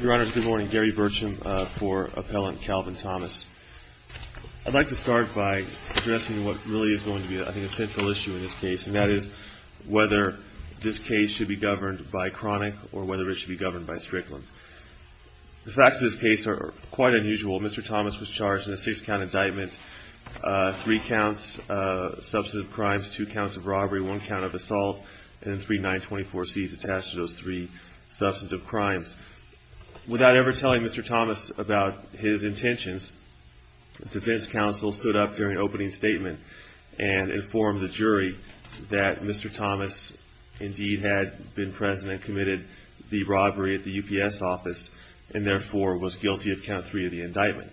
Your Honors, good morning. Gary Burcham for Appellant Calvin Thomas. I'd like to start by addressing what really is going to be, I think, a central issue in this case, and that is whether this case should be governed by Cronic or whether it should be governed by Strickland. The facts of this case are quite unusual. Mr. Thomas was charged in a six-count indictment, three counts of substantive crimes, two counts of robbery, one count of substantive crimes. Without ever telling Mr. Thomas about his intentions, the defense counsel stood up during opening statement and informed the jury that Mr. Thomas indeed had been present and committed the robbery at the UPS office and therefore was guilty of count three of the indictment.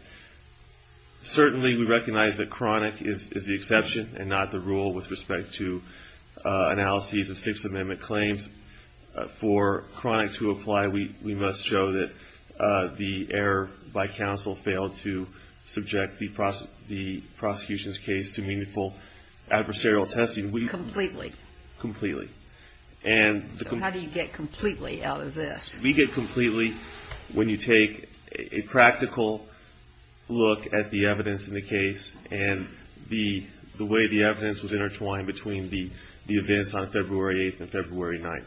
Certainly, we recognize that Cronic is the exception and not the rule with respect to analyses of Sixth Amendment claims. For Cronic to apply, we must show that the error by counsel failed to subject the prosecution's case to meaningful adversarial testing. Completely. Completely. So how do you get completely out of this? We get completely when you take a practical look at the evidence in the case and the way the evidence was intertwined between the events on February 8th and February 9th.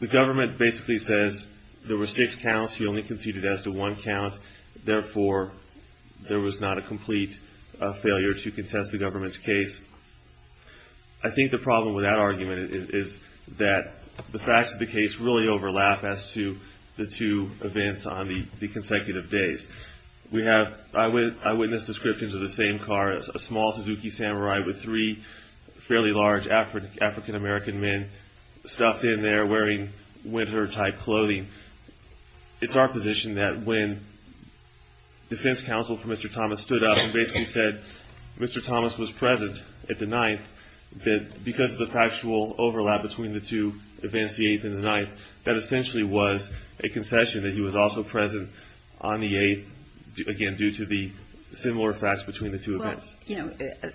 The government basically says there were six counts. He only conceded as to one count. Therefore, there was not a complete failure to contest the government's case. I think the problem with that argument is that the facts of the case really overlap as to the two events on the 9th. It's our position that when defense counsel for Mr. Thomas stood up and basically said Mr. Thomas was present at the 9th, that because of the factual overlap between the two events, the 8th and the 9th, that essentially was a concession that he was also present on the 8th, again, due to the similar facts between the two events.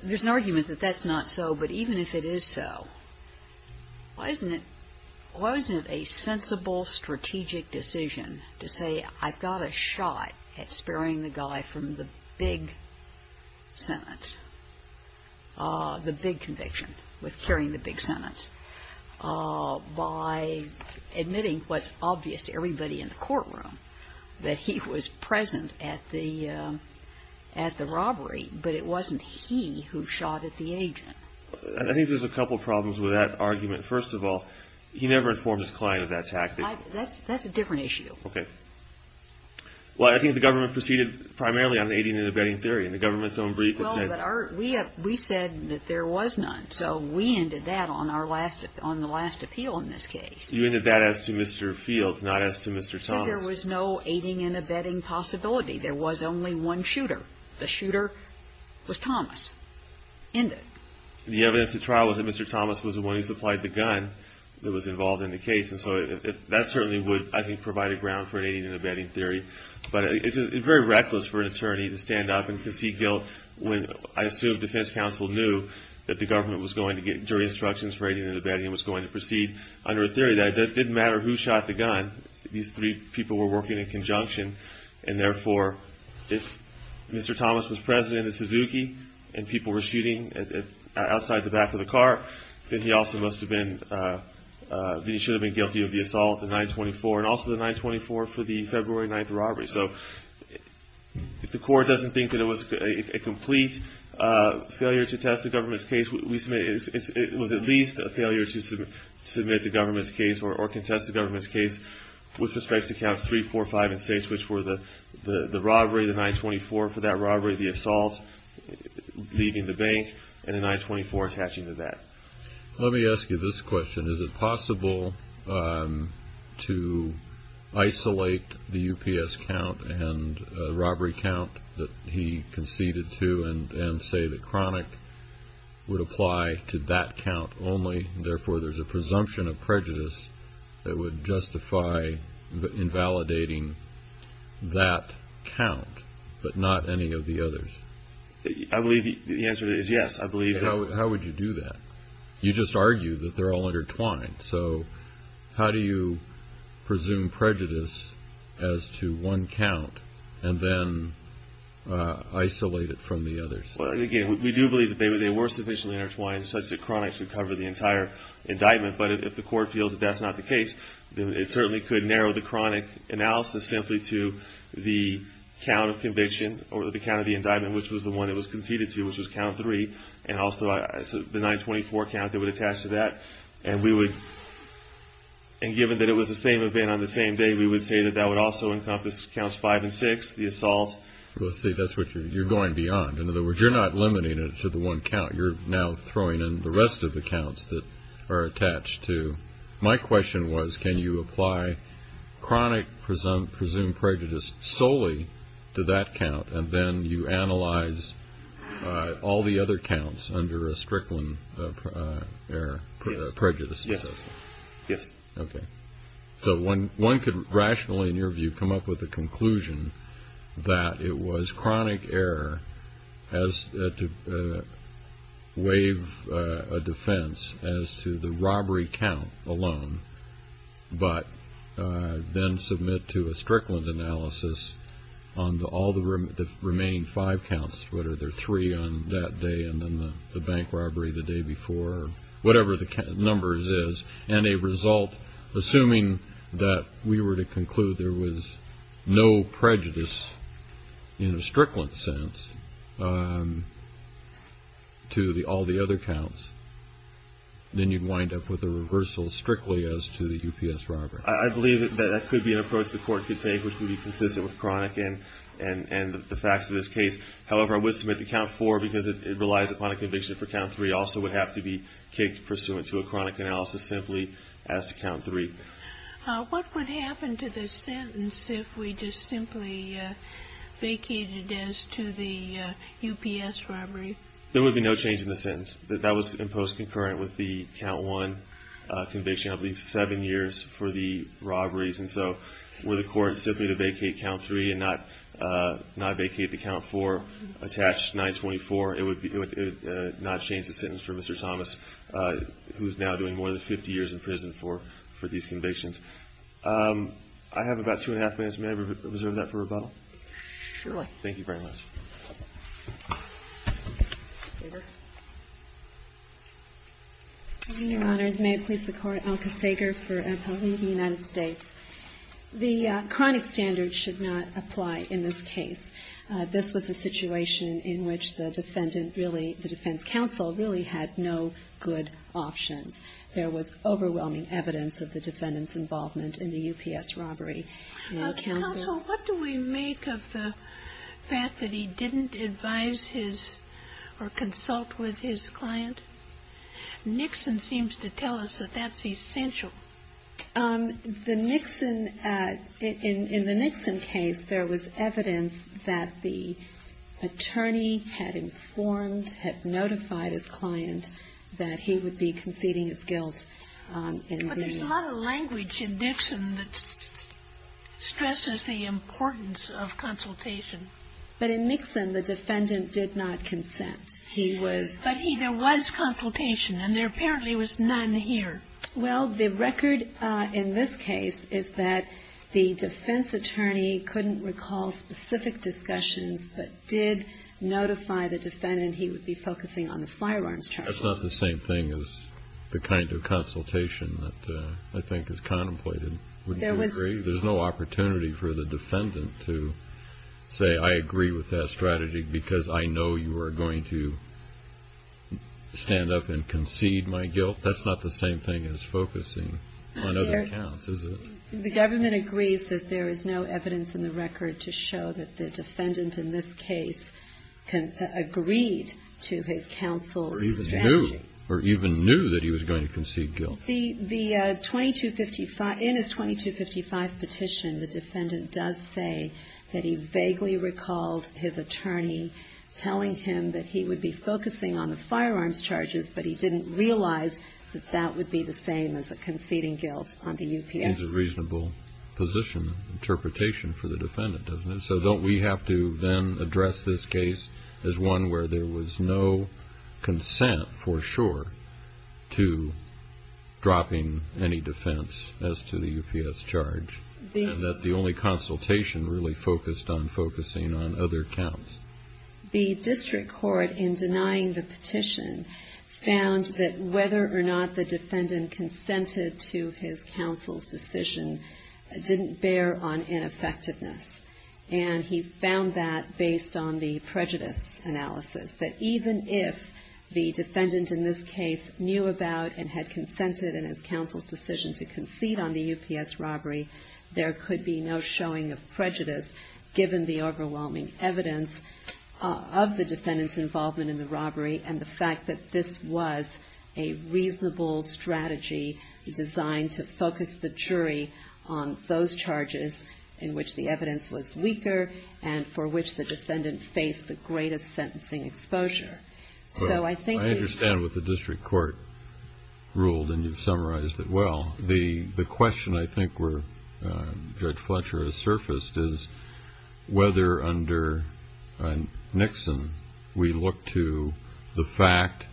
There's an argument that that's not so, but even if it is so, why isn't it a sensible strategic decision to say I've got a shot at sparing the guy from the big sentence, the big conviction, with carrying the big sentence, by admitting what's obvious to everybody in the courtroom, that he was present at the robbery, but it wasn't he who shot at the agent? I think there's a couple of problems with that argument. First of all, he never informed his client of that tactic. That's a different issue. Okay. Well, I think the government proceeded primarily on aiding and abetting theory, and the government's own brief has said... Well, but we said that there was none, so we ended that on the last appeal in this case. You ended that as to Mr. Fields, not as to Mr. Thomas. So there was no aiding and abetting possibility. There was only one shooter. The shooter was Thomas. Ended. The evidence at trial was that Mr. Thomas was the one who supplied the gun that was involved in the case, and so that certainly would, I think, provide a ground for an aiding and abetting theory, but it's very reckless for an attorney to stand up and concede guilt when I assume defense counsel knew that the government was going to get jury instructions rating and abetting and was going to proceed under a theory that it didn't matter who shot the gun. These three people were working in conjunction, and therefore, if Mr. Thomas was present in the Suzuki and people were shooting outside the back of the car, then he also must have been... Then he should have been guilty of the assault, the 924, and also the 924 for the February 9th robbery. So if the court doesn't think that it was a complete failure to test the government's case, at least a failure to submit the government's case or contest the government's case with respect to counts 3, 4, 5, and 6, which were the robbery, the 924 for that robbery, the assault, leaving the bank, and the 924 attaching to that. Let me ask you this question. Is it possible to isolate the UPS count and the robbery count that he conceded to and say that Chronic would apply to that count only, and therefore, there's a presumption of prejudice that would justify invalidating that count, but not any of the others? I believe the answer to that is yes, I believe that. How would you do that? You just argued that they're all intertwined. So how do you presume there's a presumption of prejudice as to one count and then isolate it from the others? Well, again, we do believe that they were sufficiently intertwined such that Chronic should cover the entire indictment. But if the court feels that that's not the case, then it certainly could narrow the Chronic analysis simply to the count of conviction or the count of the indictment, which was the one it was conceded to, which was count 3, and also the 924 count that would attach to that. And given that it was the same event on the same day, we would say that that would also encompass counts 5 and 6, the assault. Well, see, that's what you're going beyond. In other words, you're not limiting it to the one count. You're now throwing in the rest of the counts that are attached to. My question was, can you apply Chronic presumed prejudice solely to that count, and then you analyze all the other counts under a Strickland error, prejudice? Yes. Okay. So one could rationally, in your view, come up with a conclusion that it was Chronic error to waive a defense as to the robbery count alone, but then submit to a Strickland analysis on all the remaining five counts, whether they're three on that day and then the bank robbery the day before, or whatever the number is, and a result, assuming that we were to conclude there was no prejudice in a Strickland sense to all the other counts, then you'd wind up with a reversal strictly as to the UPS robbery. I believe that that could be an approach the Court could take, which would be consistent with Chronic and the facts of this case. However, I would submit to count 4 because it relies upon a conviction for count 3 also would have to be kicked pursuant to a Chronic analysis simply as to count 3. What would happen to the sentence if we just simply vacated as to the UPS robbery? There would be no change in the sentence. That was imposed concurrent with the count 1 conviction, at least seven years for the robberies. And so were the Court simply to not change the sentence for Mr. Thomas, who's now doing more than 50 years in prison for these convictions. I have about two and a half minutes. May I reserve that for rebuttal? Sure. Thank you very much. Your Honor, may it please the Court, I'm Alka Sager for an appellate in the United States. The Chronic standard should not apply in this case. This was a situation in which the defendant really, the defense counsel, really had no good options. There was overwhelming evidence of the defendant's involvement in the UPS robbery. Counsel, what do we make of the fact that he didn't advise his or consult with his client? Nixon seems to tell us that that's essential. The Nixon, in the Nixon case, there was evidence that the attorney had informed, had notified his client that he would be conceding his guilt. But there's a lot of language in Nixon that stresses the importance of consultation. But in Nixon, the defendant did not consent. He was But he, there was consultation, and there apparently was none here. Well, the record in this case is that the defense attorney couldn't recall specific discussions, but did notify the defendant he would be focusing on the firearms charges. That's not the same thing as the kind of consultation that I think is contemplated. There was Wouldn't you agree? There's no opportunity for the defendant to say, I agree with that strategy because I know you are going to stand up and concede my guilt. That's not the same thing as focusing on other counts, is it? The government agrees that there is no evidence in the record to show that the defendant in this case agreed to his counsel's strategy. Or even knew that he was going to concede guilt. The 2255, in his 2255 petition, the defendant does say that he vaguely recalled his attorney telling him that he would be focusing on the firearms charges, but he didn't realize that that would be the same as a conceding guilt on the UPS. Seems a reasonable position, interpretation for the defendant, doesn't it? So don't we have to then address this case as one where there was no consent for sure to dropping any defense as to the UPS charge, and that the only consultation really focused on focusing on other counts? The district court, in denying the petition, found that whether or not the defendant consented to his counsel's decision didn't bear on ineffectiveness. And he found that based on the prejudice analysis, that even if the defendant in this case knew about and had consented in his counsel's decision to concede on the UPS robbery, there could be no showing of prejudice, given the overwhelming evidence of the defendant's involvement in the robbery and the fact that this was a reasonable strategy designed to focus the jury on those charges in which the evidence was weaker and for which the defendant faced the greatest sentencing exposure. I understand what the district court ruled, and you've summarized it well. The question I think where Judge Fletcher has surfaced is whether under Nixon we look to the fact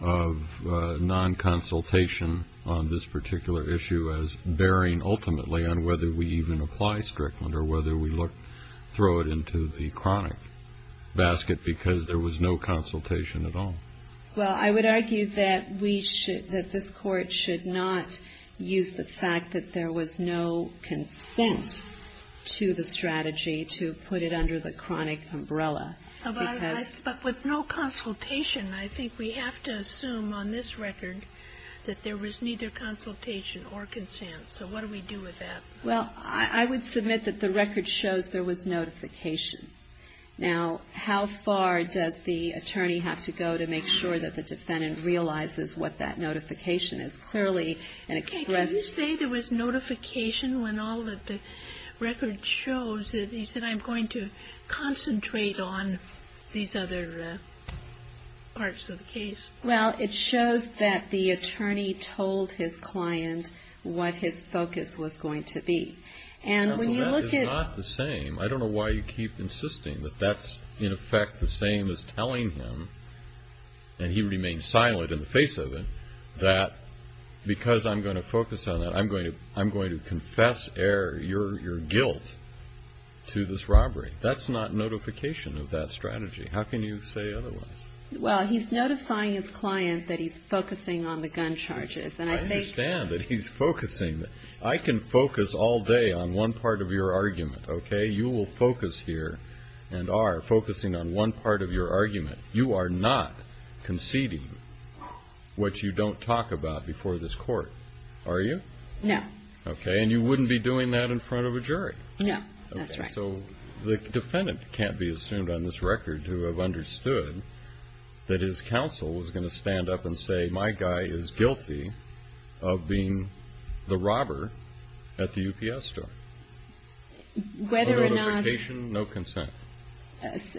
of non-consultation on this particular issue as bearing ultimately on whether we even apply Strickland or whether we throw it into the chronic basket because there was no consultation at all. Well, I would argue that this Court should not use the fact that there was no consent to the strategy to put it under the chronic umbrella. But with no consultation, I think we have to assume on this record that there was neither consultation or consent. So what do we do with that? Well, I would submit that the record shows there was notification. Now, how far does the attorney have to go to make sure that the defendant realizes what that notification is? Clearly, an express... Can you say there was notification when all of the record shows that he said, I'm going to concentrate on these other parts of the case? Well, it shows that the attorney told his client what his focus was going to be. And when you look at... Counsel, that is not the same. I don't know why you keep insisting that that's in effect the same as telling him, and he remained silent in the face of it, that because I'm going to focus on that, I'm going to confess your guilt to this robbery. That's not notification of that strategy. How can you say otherwise? Well, he's notifying his client that he's focusing on the gun charges. I understand that he's focusing. I can focus all day on one part of your argument, okay? You will focus here and are focusing on one part of your argument. You are not conceding what you don't talk about before this court, are you? No. Okay, and you wouldn't be doing that in front of a jury. No, that's right. So the defendant can't be assumed on this record to have understood that his counsel was going to stand up and say my guy is guilty of being the robber at the UPS store. Whether or not... No notification, no consent.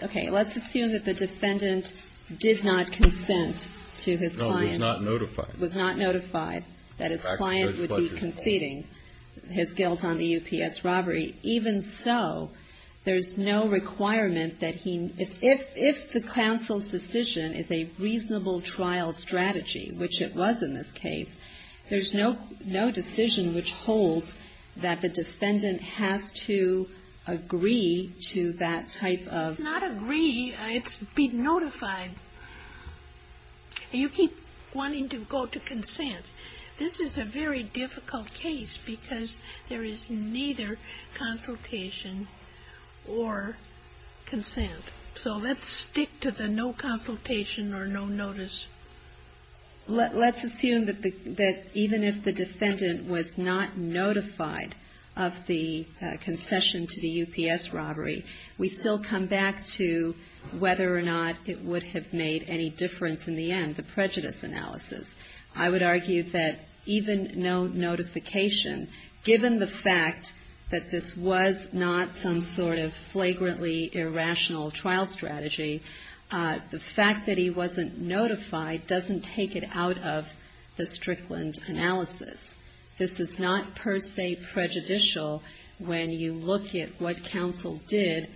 Okay, let's assume that the defendant did not consent to his client's... No, was not notified. Was not notified that his client would be conceding his guilt on the UPS robbery, even so, there's no requirement that he... If the counsel's decision is a reasonable trial strategy, which it was in this case, there's no decision which holds that the defendant has to agree to that type of... It's not agree. It's be notified. You keep wanting to go to consent. This is a very difficult case because there is neither consultation or consent. So let's stick to the no consultation or no notice. Let's assume that even if the defendant was not notified of the concession to the UPS robbery, we still come back to whether or not it would have made any difference in the end, the prejudice analysis. I would argue that even no notification, given the fact that this was not some sort of flagrantly irrational trial strategy, the fact that he wasn't notified doesn't take it out of the Strickland analysis. This is not per se prejudicial when you look at what counsel did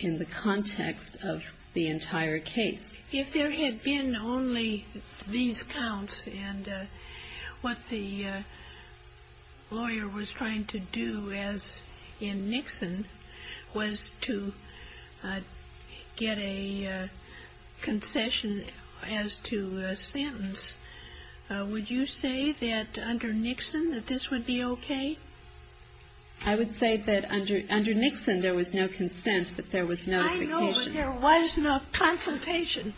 in the context of the entire case. If there had been only these counts and what the lawyer was trying to do as in Nixon was to get a concession as to a sentence, would you say that under Nixon that this would be okay? I would say that under Nixon there was no consent, but there was notification. No, there was no consultation.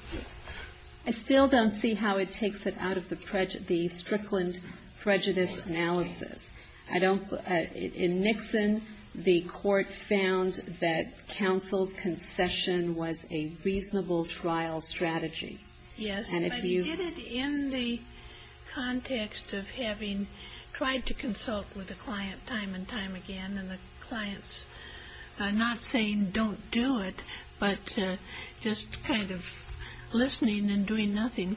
I still don't see how it takes it out of the Strickland prejudice analysis. In Nixon, the court found that counsel's concession was a reasonable trial strategy. Yes, but in the context of having tried to consult with the client time and time again and the clients not saying don't do it, but just kind of listening and doing nothing.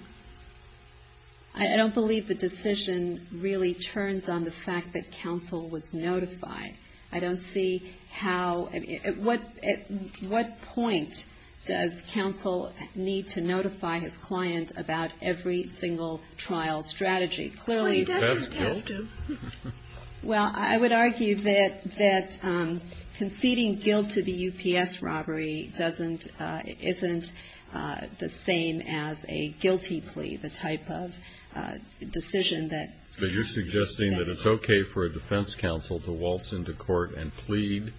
I don't believe the decision really turns on the fact that counsel was notified. I don't see how at what point does counsel need to notify his client about every single trial strategy. Well, he doesn't have to. Well, I would argue that conceding guilt to the UPS robbery isn't the same as a guilty plea, the type of decision that. But you're suggesting that it's okay for a defense counsel to waltz into court and plead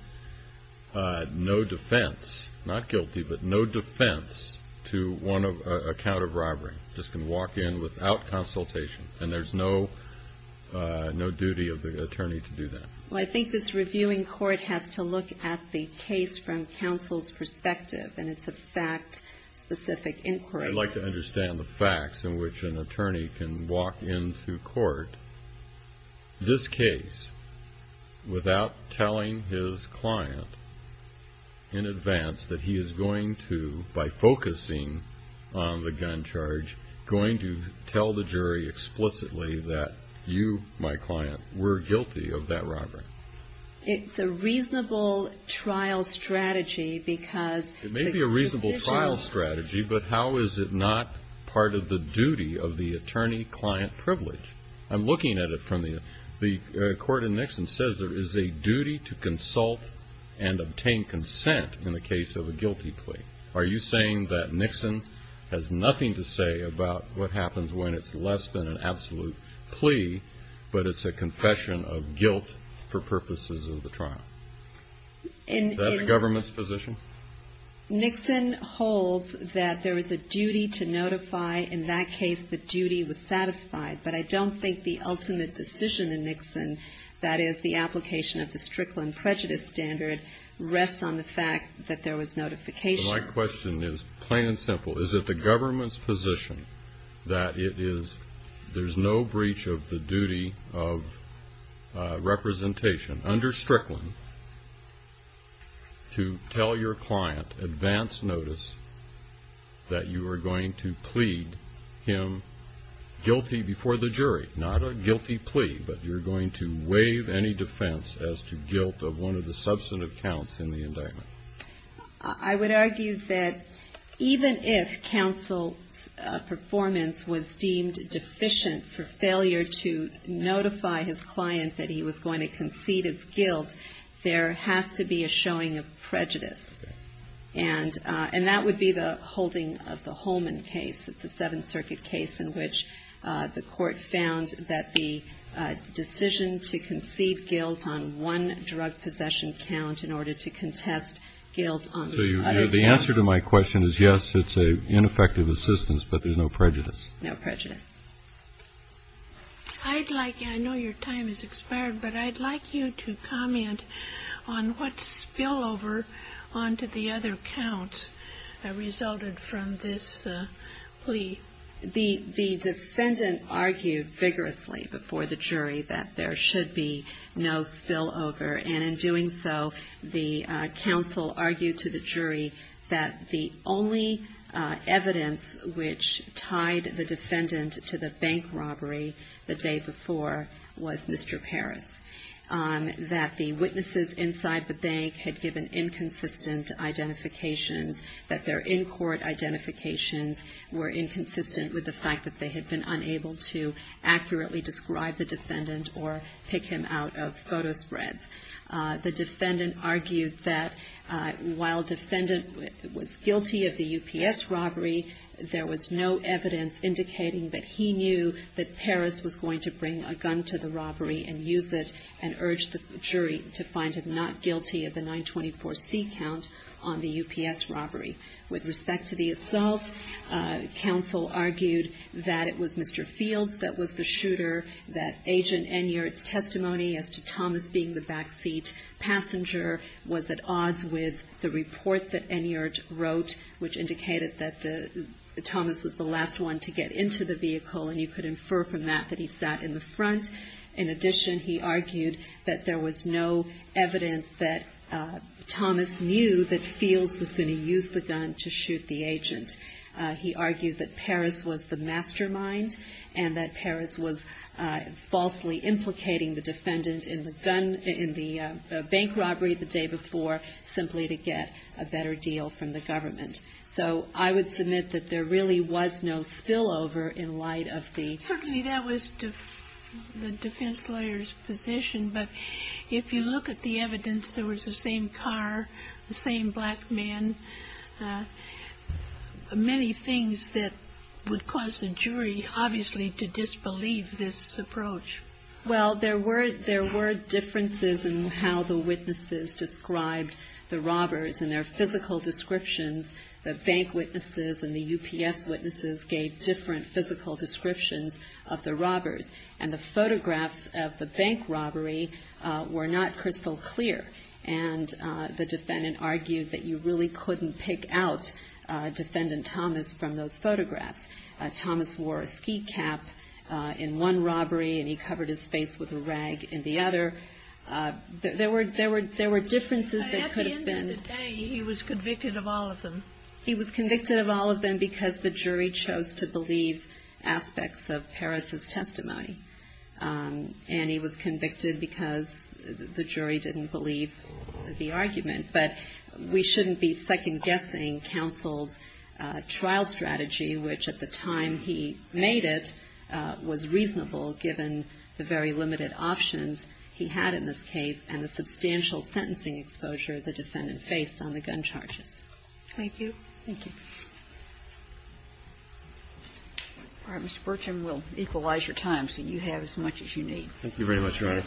no defense, not guilty, but no defense to one account of robbery, just can walk in without consultation, and there's no duty of the attorney to do that. Well, I think this reviewing court has to look at the case from counsel's perspective, and it's a fact-specific inquiry. I'd like to understand the facts in which an attorney can walk into court this case without telling his client in advance that he is going to, by focusing on the gun charge, going to tell the jury explicitly that you, my client, were guilty of that robbery. It's a reasonable trial strategy because... It may be a reasonable trial strategy, but how is it not part of the duty of the attorney-client privilege? I'm looking at it from the... The court in Nixon says there is a duty to consult and obtain consent in the case of a guilty plea. Are you saying that Nixon has nothing to say about what happens when it's less than an absolute plea, but it's a confession of guilt for purposes of the trial? Is that the government's position? Nixon holds that there is a duty to notify in that case the duty was satisfied, but I don't think the ultimate decision in Nixon, that is the application of the Strickland prejudice standard, rests on the fact that there was notification. My question is plain and simple. Is it the government's position that it is, there's no breach of the duty of representation under Strickland to tell your client advance notice that you are going to plead him guilty before the jury, not a guilty plea, but you're going to waive any defense as to guilt of one of the substantive counts in the indictment? I would argue that even if counsel's performance was deemed deficient for failure to notify his client that he was going to concede his guilt, there has to be a showing of prejudice. And that would be the holding of the Holman case. It's a Seventh Circuit case in which the Court found that the decision to concede guilt on one drug possession count in order to contest guilt on the other counts. So the answer to my question is, yes, it's an ineffective assistance, but there's no prejudice. No prejudice. I'd like, I know your time has expired, but I'd like you to comment on what spillover onto the other counts resulted from this plea. The defendant argued vigorously before the jury that there should be no spillover. And in doing so, the counsel argued to the jury that the only evidence which tied the defendant to the bank robbery the day before was Mr. Parris, that the witnesses inside the bank had given inconsistent identifications, that their in-court identifications were inconsistent with the fact that they had been unable to accurately describe the defendant or pick him out of photo spreads. The defendant argued that while defendant was guilty of the UPS robbery, there was no evidence indicating that he knew that Parris was going to bring a gun to the robbery and use it, and urged the jury to find him not guilty of the 924C count on the UPS robbery. With respect to the assault, counsel argued that it was Mr. Fields that was the shooter, that Agent Enyart's testimony as to Thomas being the backseat passenger was at odds with the report that Enyart wrote, which indicated that Thomas was the last one to get into the vehicle, and you could infer from that that he sat in the front. In addition, he argued that there was no evidence that Thomas knew that Fields was going to use the gun to shoot the agent. He argued that Parris was the mastermind, and that Parris was falsely implicating the defendant in the bank robbery the day before, simply to get a better deal from the government. So I would submit that there really was no spillover in light of the... Certainly that was the defense lawyer's position, but if you look at the evidence, there was the same car, the same black man. Many things that would cause the jury, obviously, to disbelieve this approach. Well, there were differences in how the witnesses described the robbers and their physical descriptions. The bank witnesses and the UPS witnesses gave different physical descriptions of the robbers, and the photographs of the bank robbery were not crystal clear, and the defendant argued that you really couldn't pick out Defendant Thomas from those photographs. Thomas wore a ski cap in one robbery, and he covered his face with a rag in the other. There were differences that could have been... At the end of the day, he was convicted of all of them. He was convicted of all of them because the jury chose to believe aspects of Parris's testimony, and he was convicted because the jury didn't believe the argument. But we shouldn't be second-guessing counsel's trial strategy, which at the time he made it was reasonable given the very limited options he had in this case and the substantial sentencing exposure the defendant faced on the gun charges. Thank you. Thank you. All right. Mr. Burcham, we'll equalize your time so you have as much as you need. Thank you very much, Your Honor.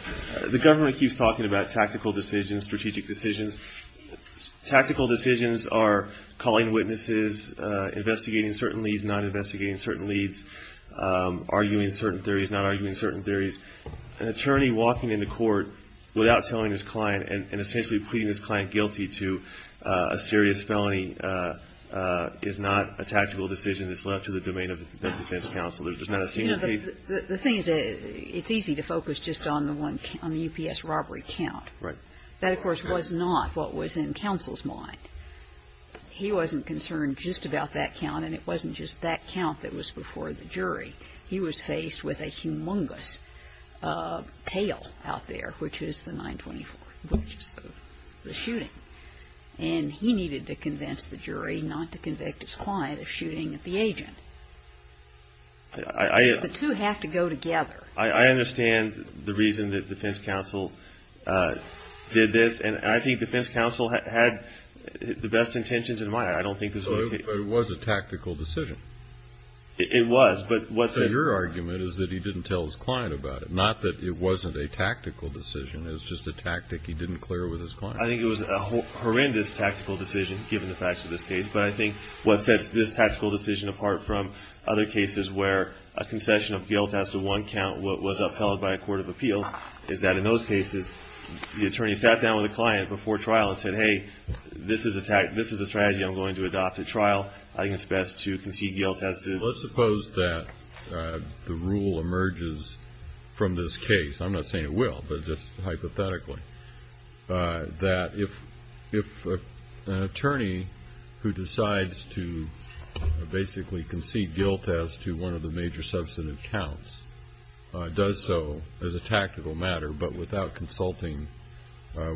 The government keeps talking about tactical decisions, strategic decisions. Tactical decisions are calling witnesses, investigating certain leads, not investigating certain leads, arguing certain theories, not arguing certain theories. An attorney walking into court without telling his client and essentially pleading his client guilty to a serious felony is not a tactical decision. It's left to the domain of the defense counsel. There's not a senior case... The thing is it's easy to focus just on the UPS robbery count. Right. That, of course, was not what was in counsel's mind. He wasn't concerned just about that count, and it wasn't just that count that was before the jury. He was faced with a humongous tale out there, which is the 924, which is the shooting. And he needed to convince the jury not to convict his client of shooting at the agent. I... The two have to go together. I understand the reason that defense counsel did this, and I think defense counsel had the best intentions in mind. I don't think this was... But it was a tactical decision. It was, but what's... But your argument is that he didn't tell his client about it, not that it wasn't a tactical decision. It was just a tactic he didn't clear with his client. I think it was a horrendous tactical decision, given the facts of this case. But I think what sets this tactical decision apart from other cases where a concession of guilt has to one count what was upheld by a court of appeals is that in those cases the attorney sat down with the client before trial and said, hey, this is a strategy I'm going to adopt at trial. I think it's best to concede guilt as to... Let's suppose that the rule emerges from this case. I'm not saying it will, but just hypothetically, that if an attorney who decides to basically concede guilt as to one of the major substantive counts does so as a tactical matter but without consulting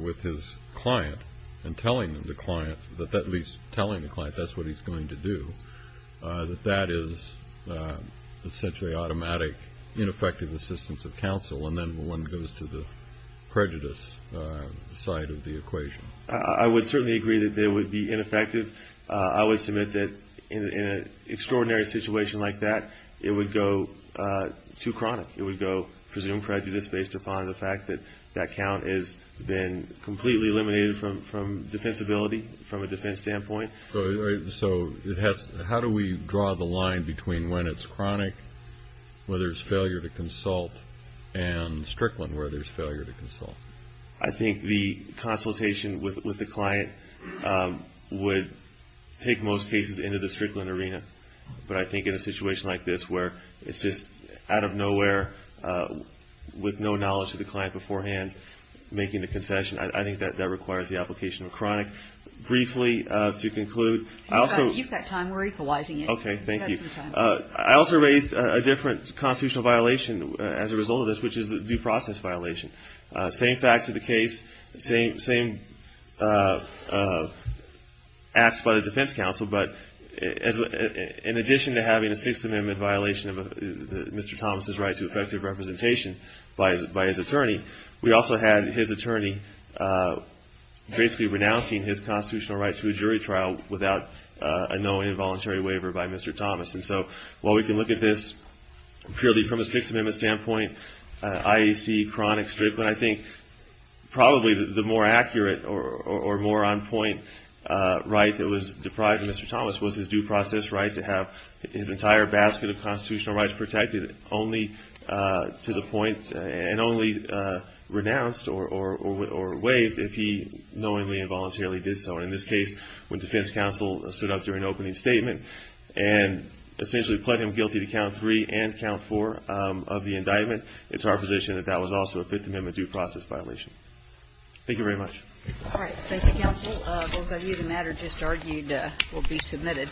with his client and telling the client that that's what he's going to do, that that is essentially automatic ineffective assistance of counsel and then one goes to the prejudice side of the equation. I would certainly agree that it would be ineffective. I would submit that in an extraordinary situation like that it would go too chronic. It would go presumed prejudice based upon the fact that that count has been completely eliminated from defensibility from a defense standpoint. So how do we draw the line between when it's chronic where there's failure to consult and strickland where there's failure to consult? I think the consultation with the client would take most cases into the strickland arena, but I think in a situation like this where it's just out of nowhere with no knowledge of the client beforehand making the concession, I think that that requires the application of chronic. Briefly, to conclude, I also... You've got time. We're equalizing it. Okay, thank you. I also raised a different constitutional violation as a result of this, which is the due process violation. Same facts of the case, same acts by the defense counsel, but in addition to having a Sixth Amendment violation of Mr. Thomas' right to effective representation by his attorney, we also had his attorney basically renouncing his constitutional right to a jury trial without a knowing involuntary waiver by Mr. Thomas. And so while we can look at this purely from a Sixth Amendment standpoint, I see chronic strickland. I think probably the more accurate or more on-point right that was deprived of Mr. Thomas was his due process right to have his entire basket of constitutional rights protected only to the point and only renounced or waived if he knowingly involuntarily did so. In this case, when defense counsel stood up during an opening statement and essentially pled him guilty to count three and count four of the indictment, it's our position that that was also a Fifth Amendment due process violation. Thank you very much. All right. Thank you, counsel. Both of you, the matter just argued will be submitted.